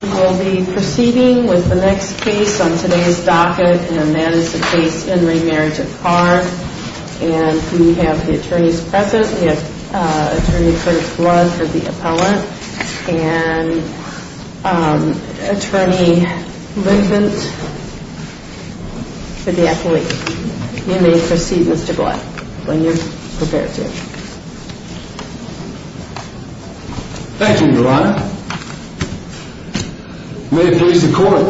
We'll be proceeding with the next case on today's docket and that is the case in re Marriage of Carr. And we have the attorneys present. We have Attorney Prince Blood for the appellant. And Attorney Lincoln for the accolade. You may proceed Mr. Blood when you're prepared to. Thank you your honor. May it please the court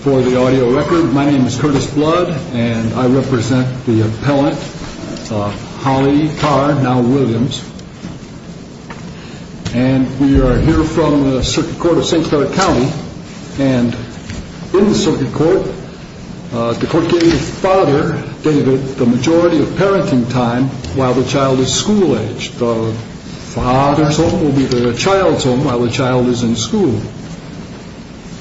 for the audio record. My name is Curtis Blood and I represent the appellant Holly Carr now Williams. And we are here from the circuit court of St. Clair County. And in the circuit court the court gave the father the majority of parenting time while the child is school aged. The father's home will be the child's home while the child is in school.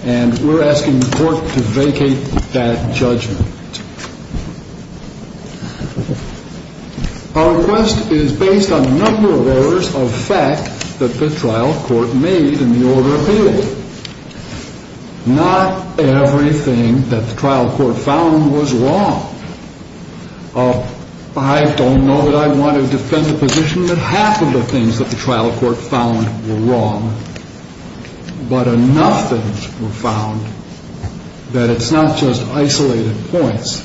And we're asking the court to vacate that judgment. Our request is based on a number of orders of fact that the trial court made in the order of appeal. Not everything that the trial court found was wrong. I don't know that I want to defend the position that half of the things that the trial court found were wrong. But enough things were found that it's not just isolated points.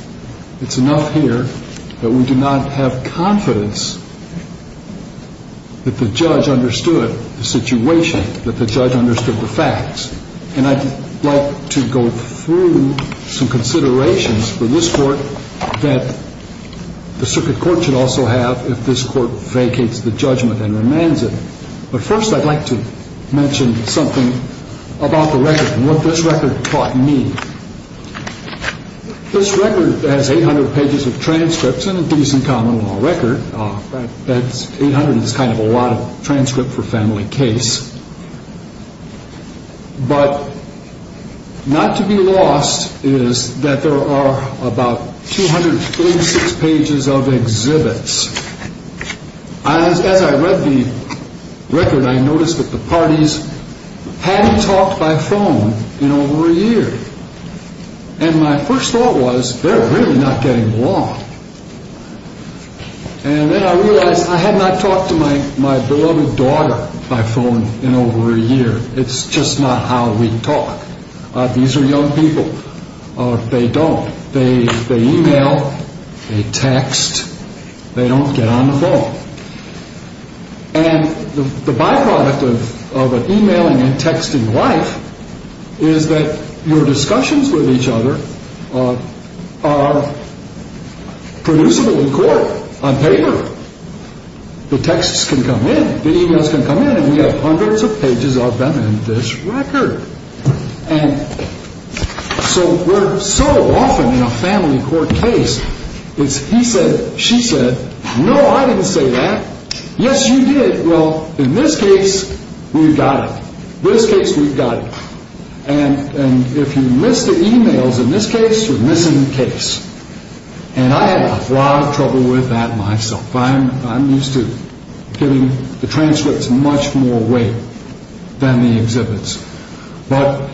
It's enough here that we do not have confidence that the judge understood the situation. That the judge understood the facts. And I'd like to go through some considerations for this court that the circuit court should also have if this court vacates the judgment and remands it. But first I'd like to mention something about the record and what this record taught me. This record has 800 pages of transcripts and a decent common law record. That's 800 is kind of a lot of transcript for family case. But not to be lost is that there are about 236 pages of exhibits. As I read the record I noticed that the parties hadn't talked by phone in over a year. And my first thought was they're really not getting along. And then I realized I had not talked to my beloved daughter by phone in over a year. It's just not how we talk. These are young people. They don't. They email. They text. They don't get on the phone. And the byproduct of an emailing and texting life is that your discussions with each other are producible in court on paper. The texts can come in. The emails can come in. And we have hundreds of pages of them in this record. And so we're so often in a family court case it's he said, she said, no, I didn't say that. Yes, you did. Well, in this case, we've got it. In this case, we've got it. And if you miss the emails in this case, you're missing the case. And I had a lot of trouble with that myself. I'm used to giving the transcripts much more weight than the exhibits. But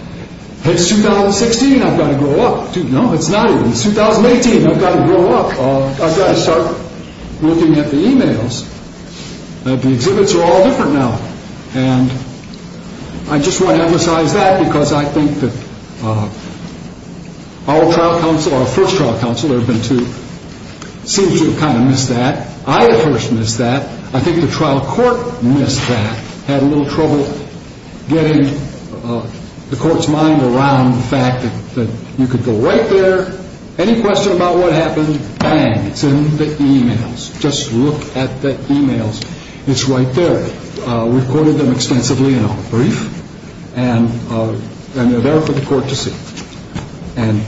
it's 2016. I've got to grow up. No, it's not. It's 2018. I've got to grow up. I've got to start looking at the emails. The exhibits are all different now. And I just want to emphasize that because I think that our trial counsel, our first trial counsel, seems to have kind of missed that. I, at first, missed that. I think the trial court missed that, had a little trouble getting the court's mind around the fact that you could go right there. Any question about what happened, bang, it's in the emails. Just look at the emails. It's right there. We've quoted them extensively in our brief, and they're there for the court to see. And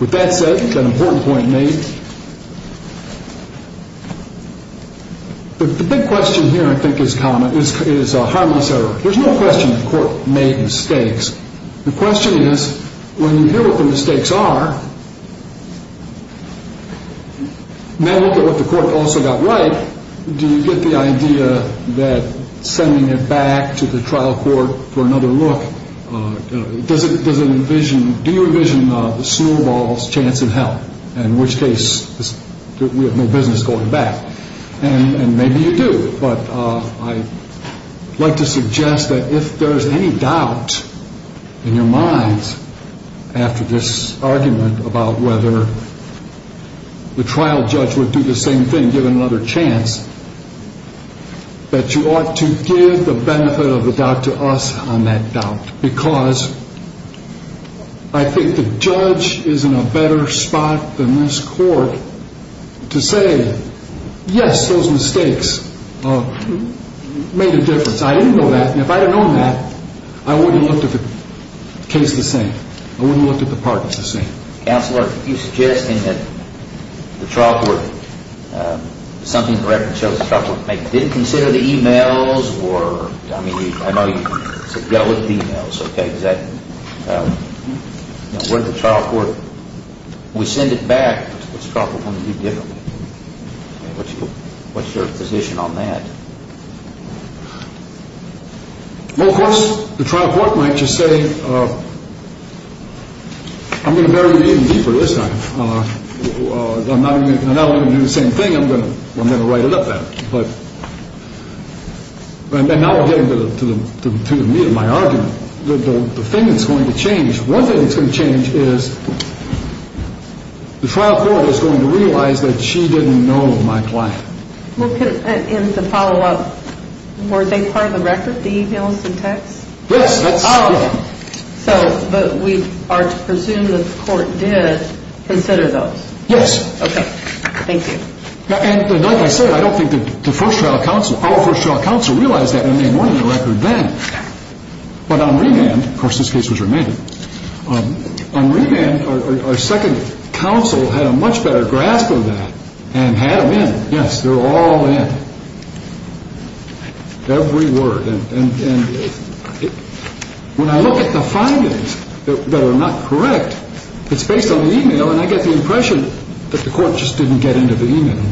with that said, an important point made. The big question here, I think, is a harmless error. There's no question the court made mistakes. The question is, when you hear what the mistakes are, then look at what the court also got right. Do you get the idea that sending it back to the trial court for another look, does it envision, do you envision the snowball's chance in hell? In which case, we have no business going back. And maybe you do. But I'd like to suggest that if there's any doubt in your minds after this argument about whether the trial judge would do the same thing, give another chance, that you ought to give the benefit of the doubt to us on that doubt. Because I think the judge is in a better spot than this court to say, yes, those mistakes made a difference. I didn't know that. And if I had known that, I wouldn't have looked at the case the same. I wouldn't have looked at the parties the same. Counselor, if you're suggesting that the trial court, something the record shows the trial court made, did it consider the e-mails or, I mean, I know you said dealt with the e-mails, okay. Does that, you know, where the trial court, we send it back, what's the trial court going to do differently? What's your position on that? Well, of course, the trial court might just say, I'm going to bury it even deeper this time. I'm not going to do the same thing. I'm going to write it up then. But now we're getting to the meat of my argument. The thing that's going to change, one thing that's going to change is the trial court is going to realize that she didn't know my client. Well, and to follow up, were they part of the record, the e-mails and texts? Yes. So, but we are to presume that the court did consider those. Yes. Okay. Thank you. And like I said, I don't think the first trial counsel, our first trial counsel realized that when they were in the record then. But on remand, of course this case was remanded, on remand our second counsel had a much better grasp of that and had them in. Yes, they were all in. Every word. And when I look at the findings that are not correct, it's based on the e-mail and I get the impression that the court just didn't get into the e-mail.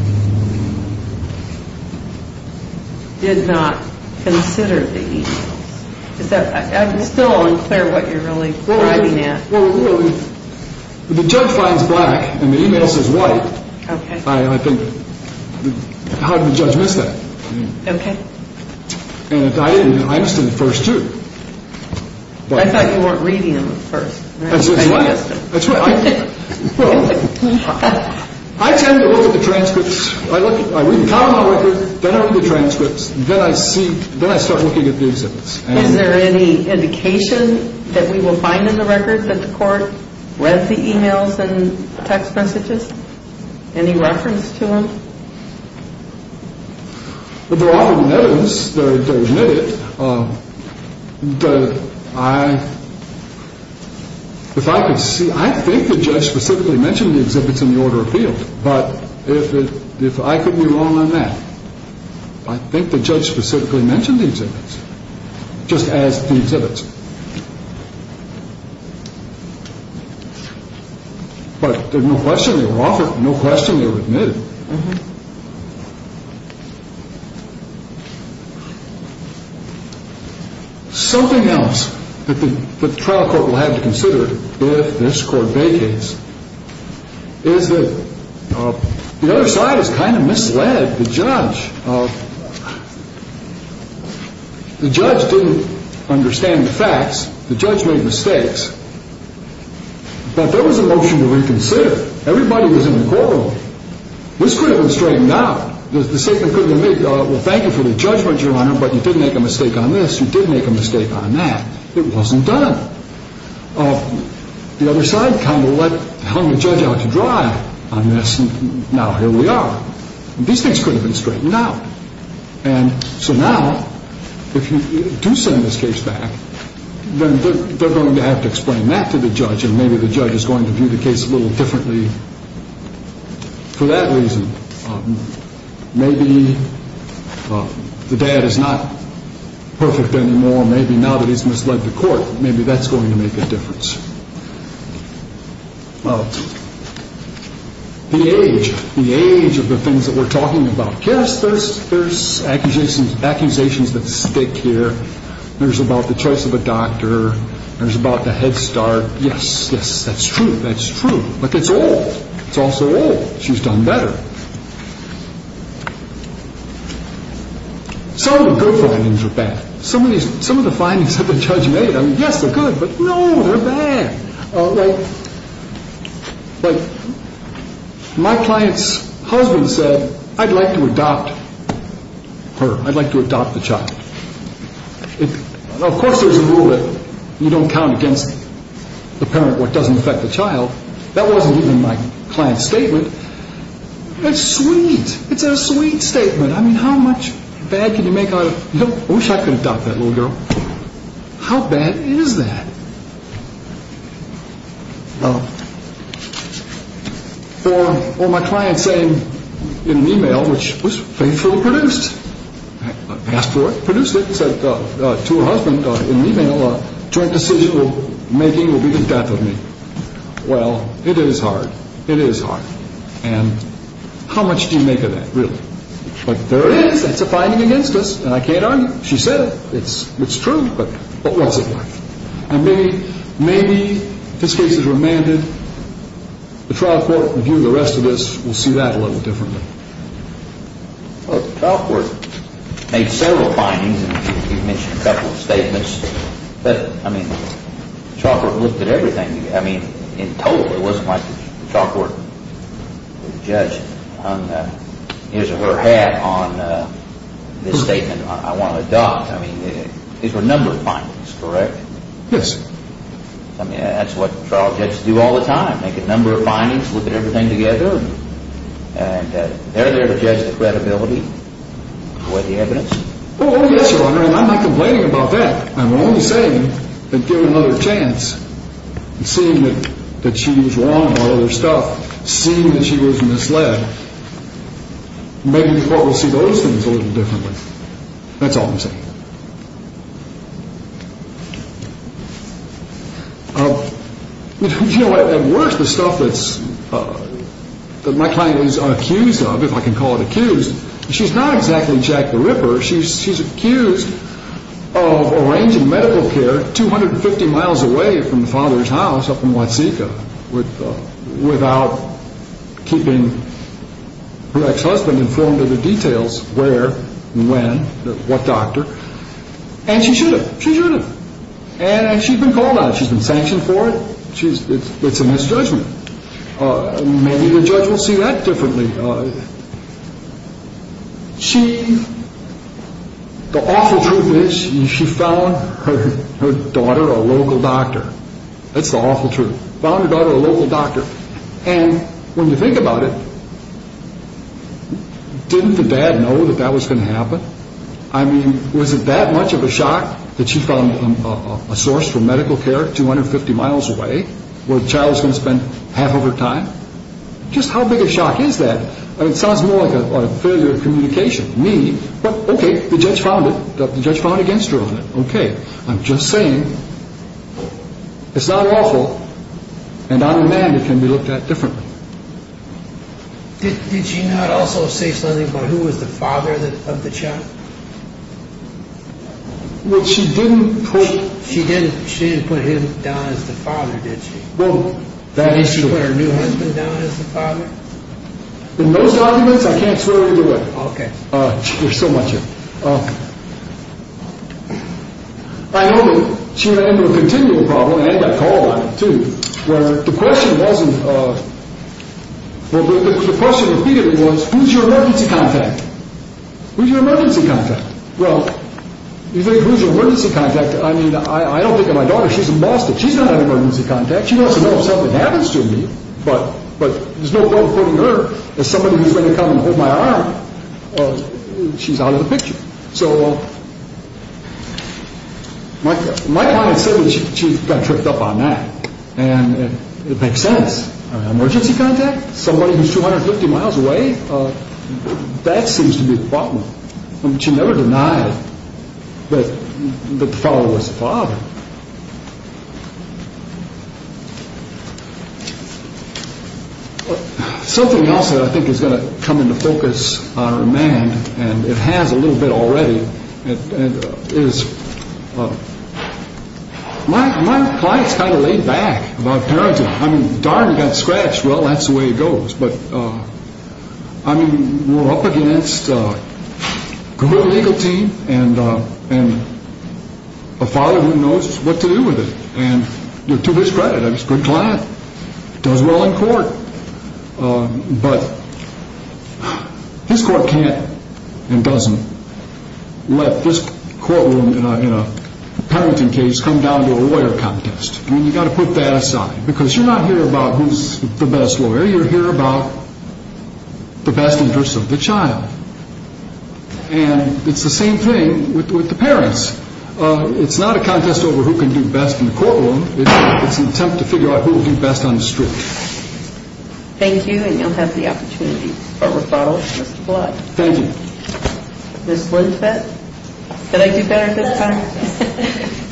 Did not consider the e-mail. Is that, I can still unclear what you're really arguing at. Well, you know, the judge finds black and the e-mail says white. Okay. And I think how did the judge miss that? Okay. And I understand the first two. I thought you weren't reading them at first. That's why. That's why. I tend to look at the transcripts. I read the comment on the record, then I look at the transcripts, then I see, then I start looking at the exhibits. Is there any indication that we will find in the record that the court read the e-mails and text messages? Any reference to them? There often is. If I could see, I think the judge specifically mentioned the exhibits in the order of appeal. But if I could be wrong on that, I think the judge specifically mentioned the exhibits. Just as the exhibits. But there's no question they were offered, no question they were admitted. Something else that the trial court will have to consider if this court vacates is that the other side has kind of misled the judge. The judge didn't understand the facts. The judge made mistakes. But there was a motion to reconsider. Everybody was in the courtroom. This could have been straightened out. Thank you for the judgment, Your Honor, but you did make a mistake on this. You did make a mistake on that. It wasn't done. The other side kind of hung the judge out to dry on this and now here we are. These things could have been straightened out. And so now, if you do send this case back, then they're going to have to explain that to the judge and maybe the judge is going to view the case a little differently for that reason. Maybe the dad is not perfect anymore. Maybe now that he's misled the court, maybe that's going to make a difference. The age, the age of the things that we're talking about. Yes, there's accusations that stick here. There's about the choice of a doctor. There's about the head start. Yes, yes, that's true. That's true. But it's old. It's also old. She's done better. Some of the good findings are bad. Some of the findings that the judge made, I mean, yes, they're good, but no, they're bad. Like my client's husband said, I'd like to adopt her. I'd like to adopt the child. Of course there's a rule that you don't count against the parent what doesn't affect the child. That wasn't even my client's statement. That's sweet. It's a sweet statement. I mean, how much bad can you make out of, you know, I wish I could adopt that little girl. How bad is that? Or my client saying in an e-mail, which was faithfully produced, asked for it, produced it, said to her husband in an e-mail, joint decision making will be the death of me. Well, it is hard. It is hard. And how much do you make of that, really? But there it is. That's a finding against us. And I can't argue. She said it. It's true. But what's it like? I mean, maybe if this case is remanded, the trial court review of the rest of this will see that a little differently. Well, the trial court made several findings, and you've mentioned a couple of statements. But, I mean, the trial court looked at everything. I mean, in total, it wasn't like the trial court would judge on his or her hat on this statement, I want to adopt. I mean, these were a number of findings, correct? Yes. I mean, that's what trial judges do all the time, make a number of findings, look at everything together, and they're there to judge the credibility, weigh the evidence. Oh, yes, Your Honor, and I'm not complaining about that. I'm only saying that given another chance and seeing that she was wrong on other stuff, seeing that she was misled, maybe the court will see those things a little differently. That's all I'm saying. You know what? At worst, the stuff that my client was accused of, if I can call it accused, she's not exactly Jack the Ripper. She's accused of arranging medical care 250 miles away from the father's house up in Watsika without keeping her ex-husband informed of the details where and when, what doctor, and she should have. She should have. And she's been called on. She's been sanctioned for it. It's a misjudgment. Maybe the judge will see that differently. The awful truth is she found her daughter a local doctor. That's the awful truth. Found her daughter a local doctor. And when you think about it, didn't the dad know that that was going to happen? I mean, was it that much of a shock that she found a source for medical care 250 miles away where the child was going to spend half of her time? Just how big a shock is that? It sounds more like a failure of communication to me. Okay, the judge found it. The judge found against her on it. Okay, I'm just saying it's not awful. And I'm a man that can be looked at differently. Did she not also say something about who was the father of the child? She didn't put him down as the father, did she? Well, that is true. She didn't put her new husband down as the father? In those documents, I can't swear either way. There's so much of it. I know that she ran into a continual problem, and I got called on it too, where the question wasn't, well, the question repeatedly was, who's your emergency contact? Who's your emergency contact? Well, you say, who's your emergency contact? I mean, I don't think of my daughter. She's a monster. She's not an emergency contact. She wants to know if something happens to me. But there's no problem putting her as somebody who's going to come and hold my arm. She's out of the picture. So my client said that she got tripped up on that. And it makes sense. An emergency contact? Somebody who's 250 miles away? That seems to be the problem. She never denied that the father was the father. Something else that I think is going to come into focus on remand, and it has a little bit already, is my client's kind of laid back about parenting. I mean, Darden got scratched. Well, that's the way it goes. But, I mean, we're up against a good legal team and a father who knows what to do with it. And to his credit, I mean, he's a good client. He does well in court. But his court can't and doesn't let this courtroom in a parenting case come down to a lawyer contest. I mean, you've got to put that aside. Because you're not here about who's the best lawyer. You're here about the best interest of the child. And it's the same thing with the parents. It's not a contest over who can do best in the courtroom. It's an attempt to figure out who can do best on the street. Thank you, and you'll have the opportunity to start with bottles. Mr. Blatt. Thank you. Ms. Blintford. Did I do better this time? Yes.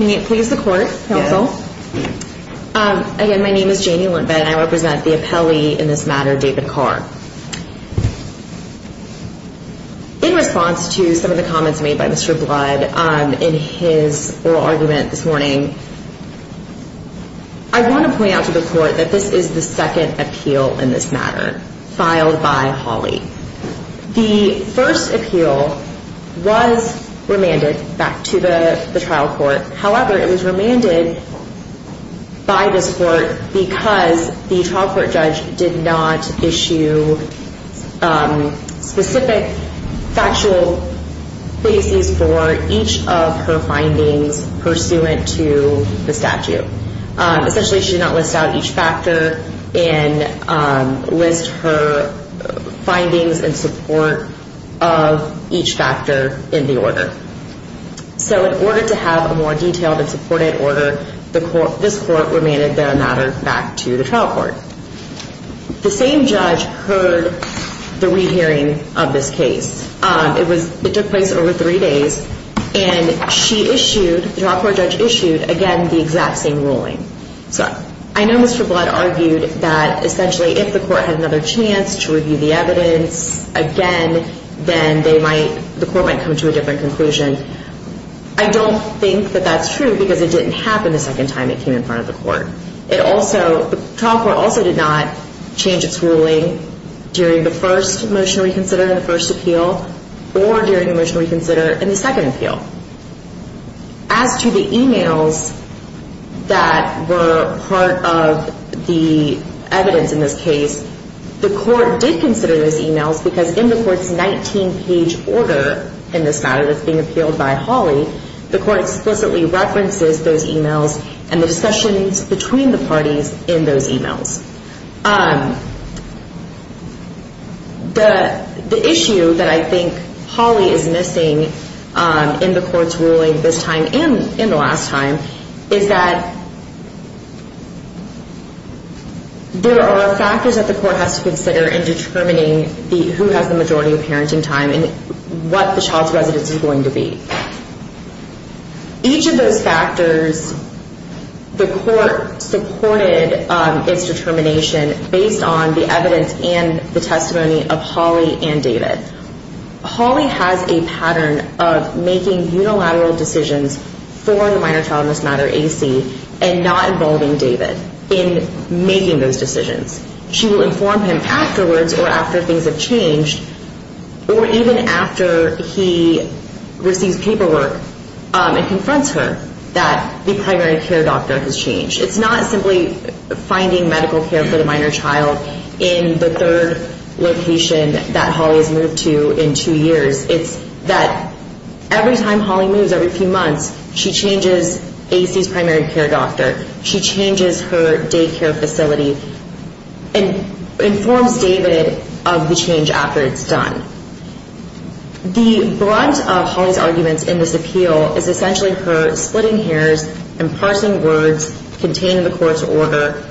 May it please the court, counsel. Again, my name is Janie Lintbet, and I represent the appellee in this matter, David Carr. In response to some of the comments made by Mr. Blatt in his oral argument this morning, I want to point out to the court that this is the second appeal in this matter, filed by Hawley. The first appeal was remanded back to the trial court. However, it was remanded by this court because the trial court judge did not issue specific factual cases for each of her findings pursuant to the statute. Essentially, she did not list out each factor and list her findings in support of each factor in the order. So in order to have a more detailed and supported order, this court remanded the matter back to the trial court. The same judge heard the rehearing of this case. It took place over three days, and she issued, the trial court judge issued, again, the exact same ruling. So I know Mr. Blatt argued that essentially if the court had another chance to review the evidence again, then the court might come to a different conclusion. I don't think that that's true because it didn't happen the second time it came in front of the court. The trial court also did not change its ruling during the first motion to reconsider and the first appeal or during the motion to reconsider and the second appeal. As to the e-mails that were part of the evidence in this case, the court did consider those e-mails because in the court's 19-page order in this matter that's being appealed by Hawley, the court explicitly references those e-mails and the discussions between the parties in those e-mails. The issue that I think Hawley is missing in the court's ruling this time and in the last time is that there are factors that the court has to consider in determining who has the majority of parenting time and what the child's residence is going to be. Each of those factors, the court supported its determination based on the evidence and the testimony of Hawley and David. Hawley has a pattern of making unilateral decisions for the minor child in this matter, AC, and not involving David in making those decisions. She will inform him afterwards or after things have changed or even after he receives paperwork and confronts her that the primary care doctor has changed. It's not simply finding medical care for the minor child in the third location that Hawley has moved to in two years. It's that every time Hawley moves, every few months, she changes AC's primary care doctor. She changes her daycare facility and informs David of the change after it's done. The brunt of Hawley's arguments in this appeal is essentially her splitting hairs and parsing words contained in the court's order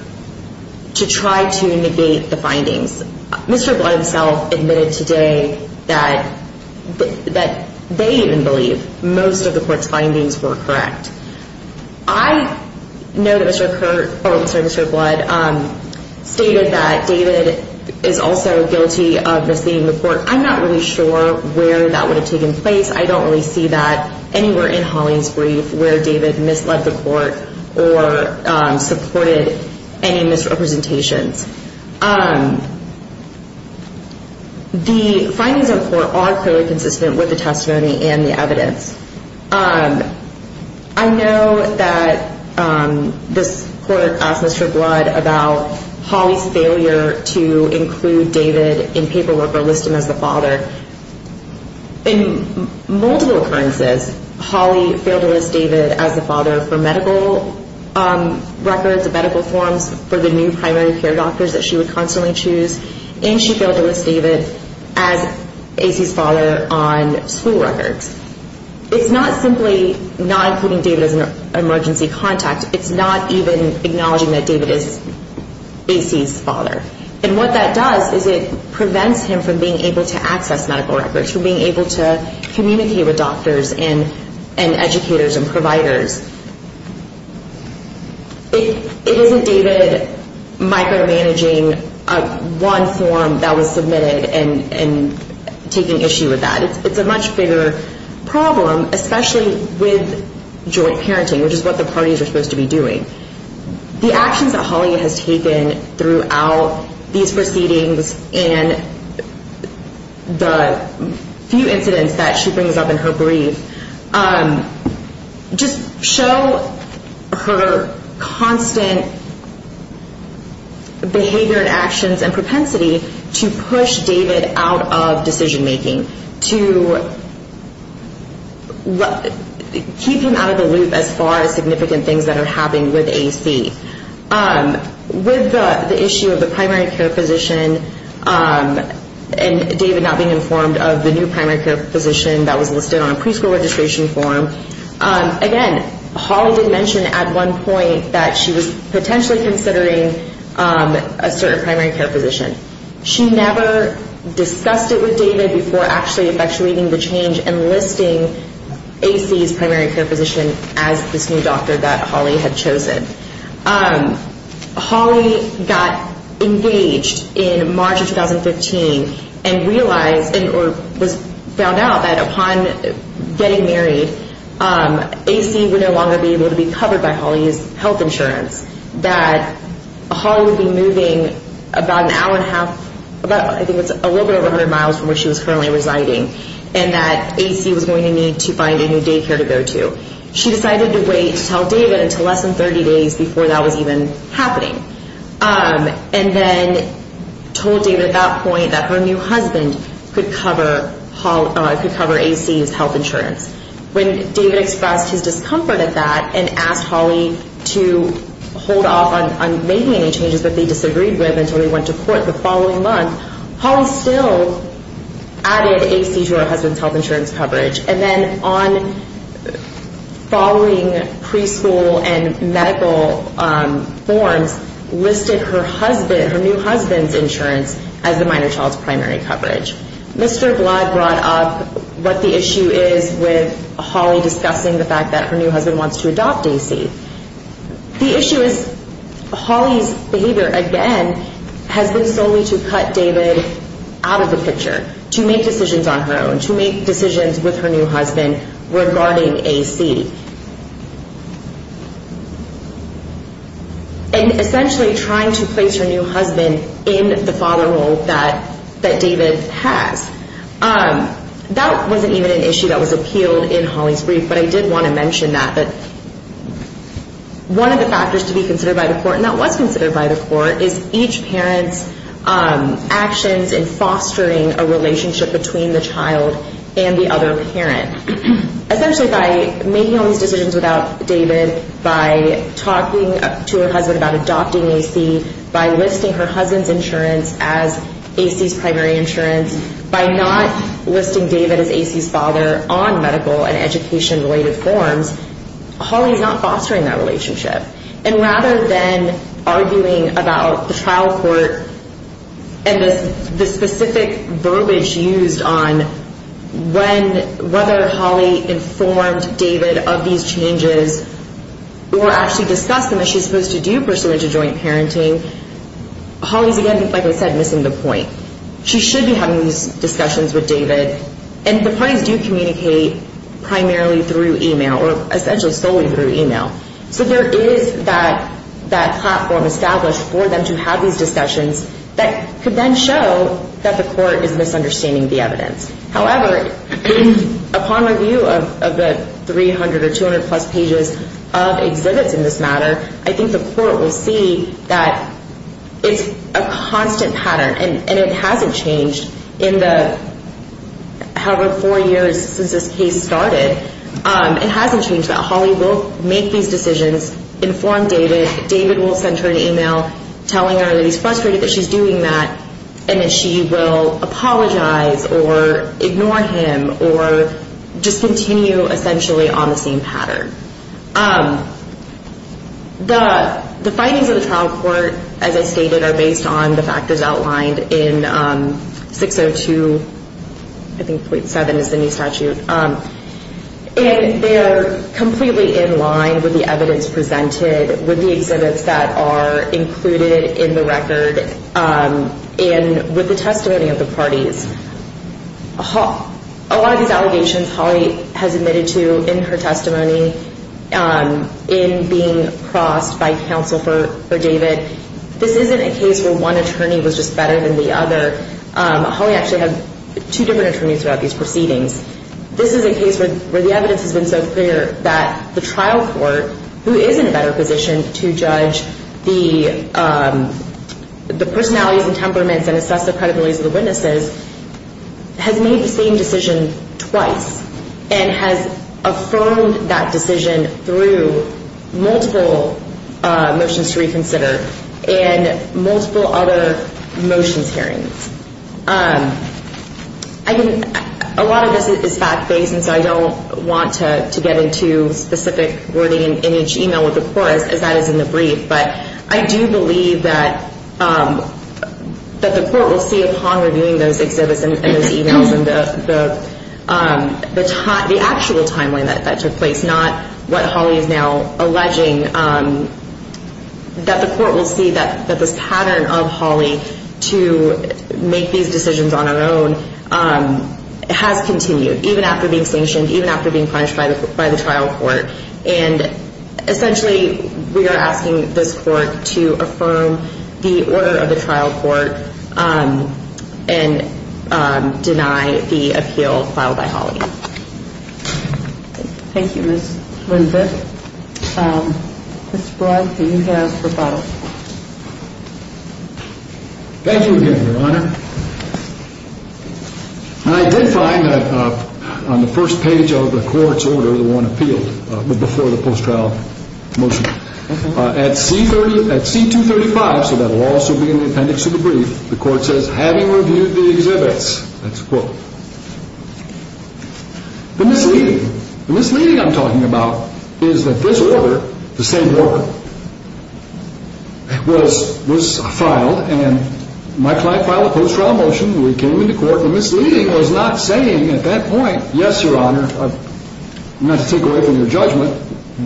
to try to negate the findings. Mr. Blunt himself admitted today that they even believe most of the court's findings were correct. I know that Mr. Blunt stated that David is also guilty of misleading the court. I'm not really sure where that would have taken place. I don't really see that anywhere in Hawley's brief where David misled the court or supported any misrepresentations. The findings in court are clearly consistent with the testimony and the evidence. I know that this court asked Mr. Blunt about Hawley's failure to include David in paperwork or list him as the father. In multiple occurrences, Hawley failed to list David as the father for medical records, medical forms for the new primary care doctors that she would constantly choose, and she failed to list David as A.C.'s father on school records. It's not simply not including David as an emergency contact. It's not even acknowledging that David is A.C.'s father. And what that does is it prevents him from being able to access medical records, from being able to communicate with doctors and educators and providers. It isn't David micromanaging one form that was submitted and taking issue with that. It's a much bigger problem, especially with joint parenting, which is what the parties are supposed to be doing. The actions that Hawley has taken throughout these proceedings and the few incidents that she brings up in her brief just show her constant behavior and actions and propensity to push David out of decision-making, to keep him out of the loop as far as significant things that are happening with A.C. With the issue of the primary care physician and David not being informed of the new primary care physician that was listed on a preschool registration form, again, Hawley did mention at one point that she was potentially considering a certain primary care physician. She never discussed it with David before actually effectuating the change and listing A.C.'s primary care physician as this new doctor that Hawley had chosen. Hawley got engaged in March of 2015 and realized or was found out that upon getting married, A.C. would no longer be able to be covered by Hawley's health insurance, that Hawley would be moving about an hour and a half, I think it was a little bit over 100 miles from where she was currently residing, and that A.C. was going to need to find a new daycare to go to. She decided to wait to tell David until less than 30 days before that was even happening and then told David at that point that her new husband could cover A.C.'s health insurance. When David expressed his discomfort at that and asked Hawley to hold off on making any changes that they disagreed with until he went to court the following month, Hawley still added A.C. to her husband's health insurance coverage and then on following preschool and medical forms listed her husband, her new husband's insurance as the minor child's primary coverage. Mr. Blood brought up what the issue is with Hawley discussing the fact that her new husband wants to adopt A.C. The issue is Hawley's behavior, again, has been solely to cut David out of the picture, to make decisions on her own, to make decisions with her new husband regarding A.C. And essentially trying to place her new husband in the father role that David has. That wasn't even an issue that was appealed in Hawley's brief, but I did want to mention that one of the factors to be considered by the court, and that was considered by the court, is each parent's actions in fostering a relationship between the child and the other parent. Essentially by making all these decisions without David, by talking to her husband about adopting A.C., by listing her husband's insurance as A.C.'s primary insurance, by not listing David as A.C.'s father on medical and education-related forms, Hawley's not fostering that relationship. And rather than arguing about the trial court and the specific verbiage used on whether Hawley informed David of these changes or actually discussed them as she's supposed to do pursuant to joint parenting, Hawley's, again, like I said, missing the point. She should be having these discussions with David. And the parties do communicate primarily through e-mail or essentially solely through e-mail. So there is that platform established for them to have these discussions that could then show that the court is misunderstanding the evidence. However, upon review of the 300 or 200-plus pages of exhibits in this matter, I think the court will see that it's a constant pattern. And it hasn't changed in the, however, four years since this case started. It hasn't changed that Hawley will make these decisions, inform David, David will send her an e-mail telling her that he's frustrated that she's doing that, and that she will apologize or ignore him or just continue essentially on the same pattern. The findings of the trial court, as I stated, are based on the factors outlined in 602, I think 0.7 is the new statute. And they are completely in line with the evidence presented, with the exhibits that are included in the record and with the testimony of the parties. A lot of these allegations Hawley has admitted to in her testimony, in being crossed by counsel for David, this isn't a case where one attorney was just better than the other. Hawley actually had two different attorneys throughout these proceedings. This is a case where the evidence has been so clear that the trial court, who is in a better position to judge the personalities and temperaments and assess the credibility of the witnesses, has made the same decision twice and has affirmed that decision through multiple motions to reconsider and multiple other motions hearings. A lot of this is fact-based, and so I don't want to get into specific wording in each e-mail with the court, as that is in the brief. But I do believe that the court will see upon reviewing those exhibits and those e-mails and the actual timeline that took place, not what Hawley is now alleging, that the court will see that this pattern of Hawley to make these decisions on her own has continued, even after being sanctioned, even after being punished by the trial court. And essentially, we are asking this court to affirm the order of the trial court and deny the appeal filed by Hawley. Thank you, Ms. Lindberg. Mr. Blunt, do you have rebuttal? Thank you again, Your Honor. I did find that on the first page of the court's order, the one appealed before the post-trial motion, at C-235, so that will also be in the appendix of the brief, the court says, That's a quote. The misleading I'm talking about is that this order, the same order, was filed and my client filed a post-trial motion. We came into court. The misleading was not saying at that point, yes, Your Honor, not to take away from your judgment,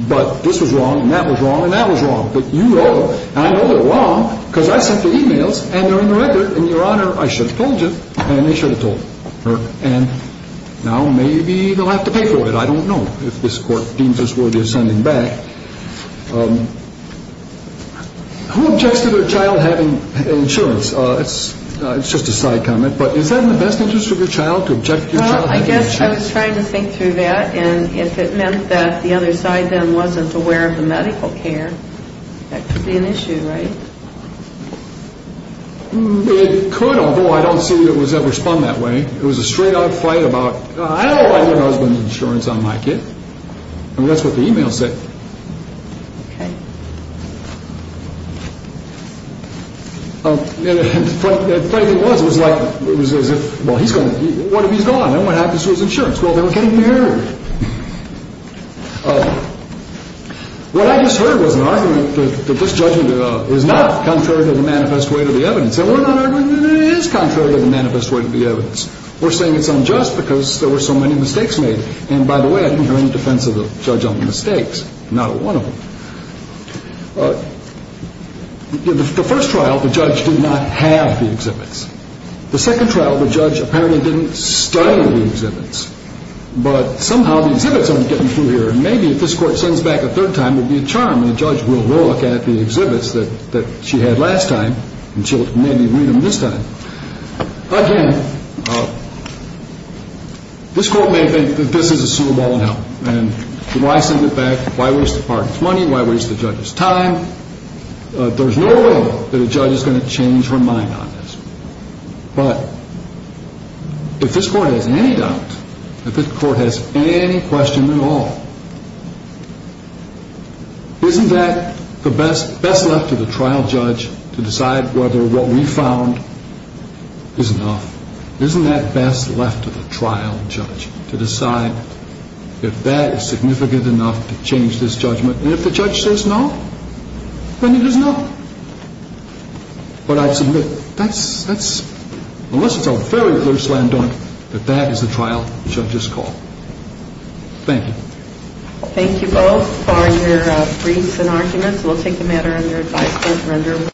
but this was wrong and that was wrong and that was wrong, but you wrote them. And I know they're wrong because I sent the e-mails and they're in the record. And, Your Honor, I should have told you and they should have told her. And now maybe they'll have to pay for it. I don't know if this court deems this worthy of sending back. Who objects to their child having insurance? It's just a side comment, but is that in the best interest of your child to object to your child having insurance? Well, I guess I was trying to think through that and if it meant that the other side then wasn't aware of the medical care, that could be an issue, right? It could, although I don't see that it was ever spun that way. It was a straight-up fight about, I don't like my husband's insurance on my kid. I mean, that's what the e-mails said. Okay. And frankly, it was. It was like, well, he's gone. What if he's gone? What happens to his insurance? Well, they were getting married. What I just heard was an argument that this judgment is not contrary to the manifest way to the evidence. And we're not arguing that it is contrary to the manifest way to the evidence. We're saying it's unjust because there were so many mistakes made. And by the way, I didn't hear any defense of the judge on the mistakes, not one of them. The first trial, the judge did not have the exhibits. The second trial, the judge apparently didn't study the exhibits. But somehow the exhibits aren't getting through here. And maybe if this court sends back a third time, it would be a charm, and the judge will look at the exhibits that she had last time, and she'll maybe read them this time. Again, this court may think that this is a suit of all hell. And why send it back? Why waste the partner's money? Why waste the judge's time? There's no way that a judge is going to change her mind on this. But if this court has any doubt, if this court has any question at all, isn't that best left to the trial judge to decide whether what we found is enough? Isn't that best left to the trial judge to decide if that is significant enough to change this judgment? And if the judge says no, then it is no. But I submit, unless it's a very, very slam dunk, that that is the trial judge's call. Thank you. Thank you both for your briefs and arguments. We'll take the matter under advisement.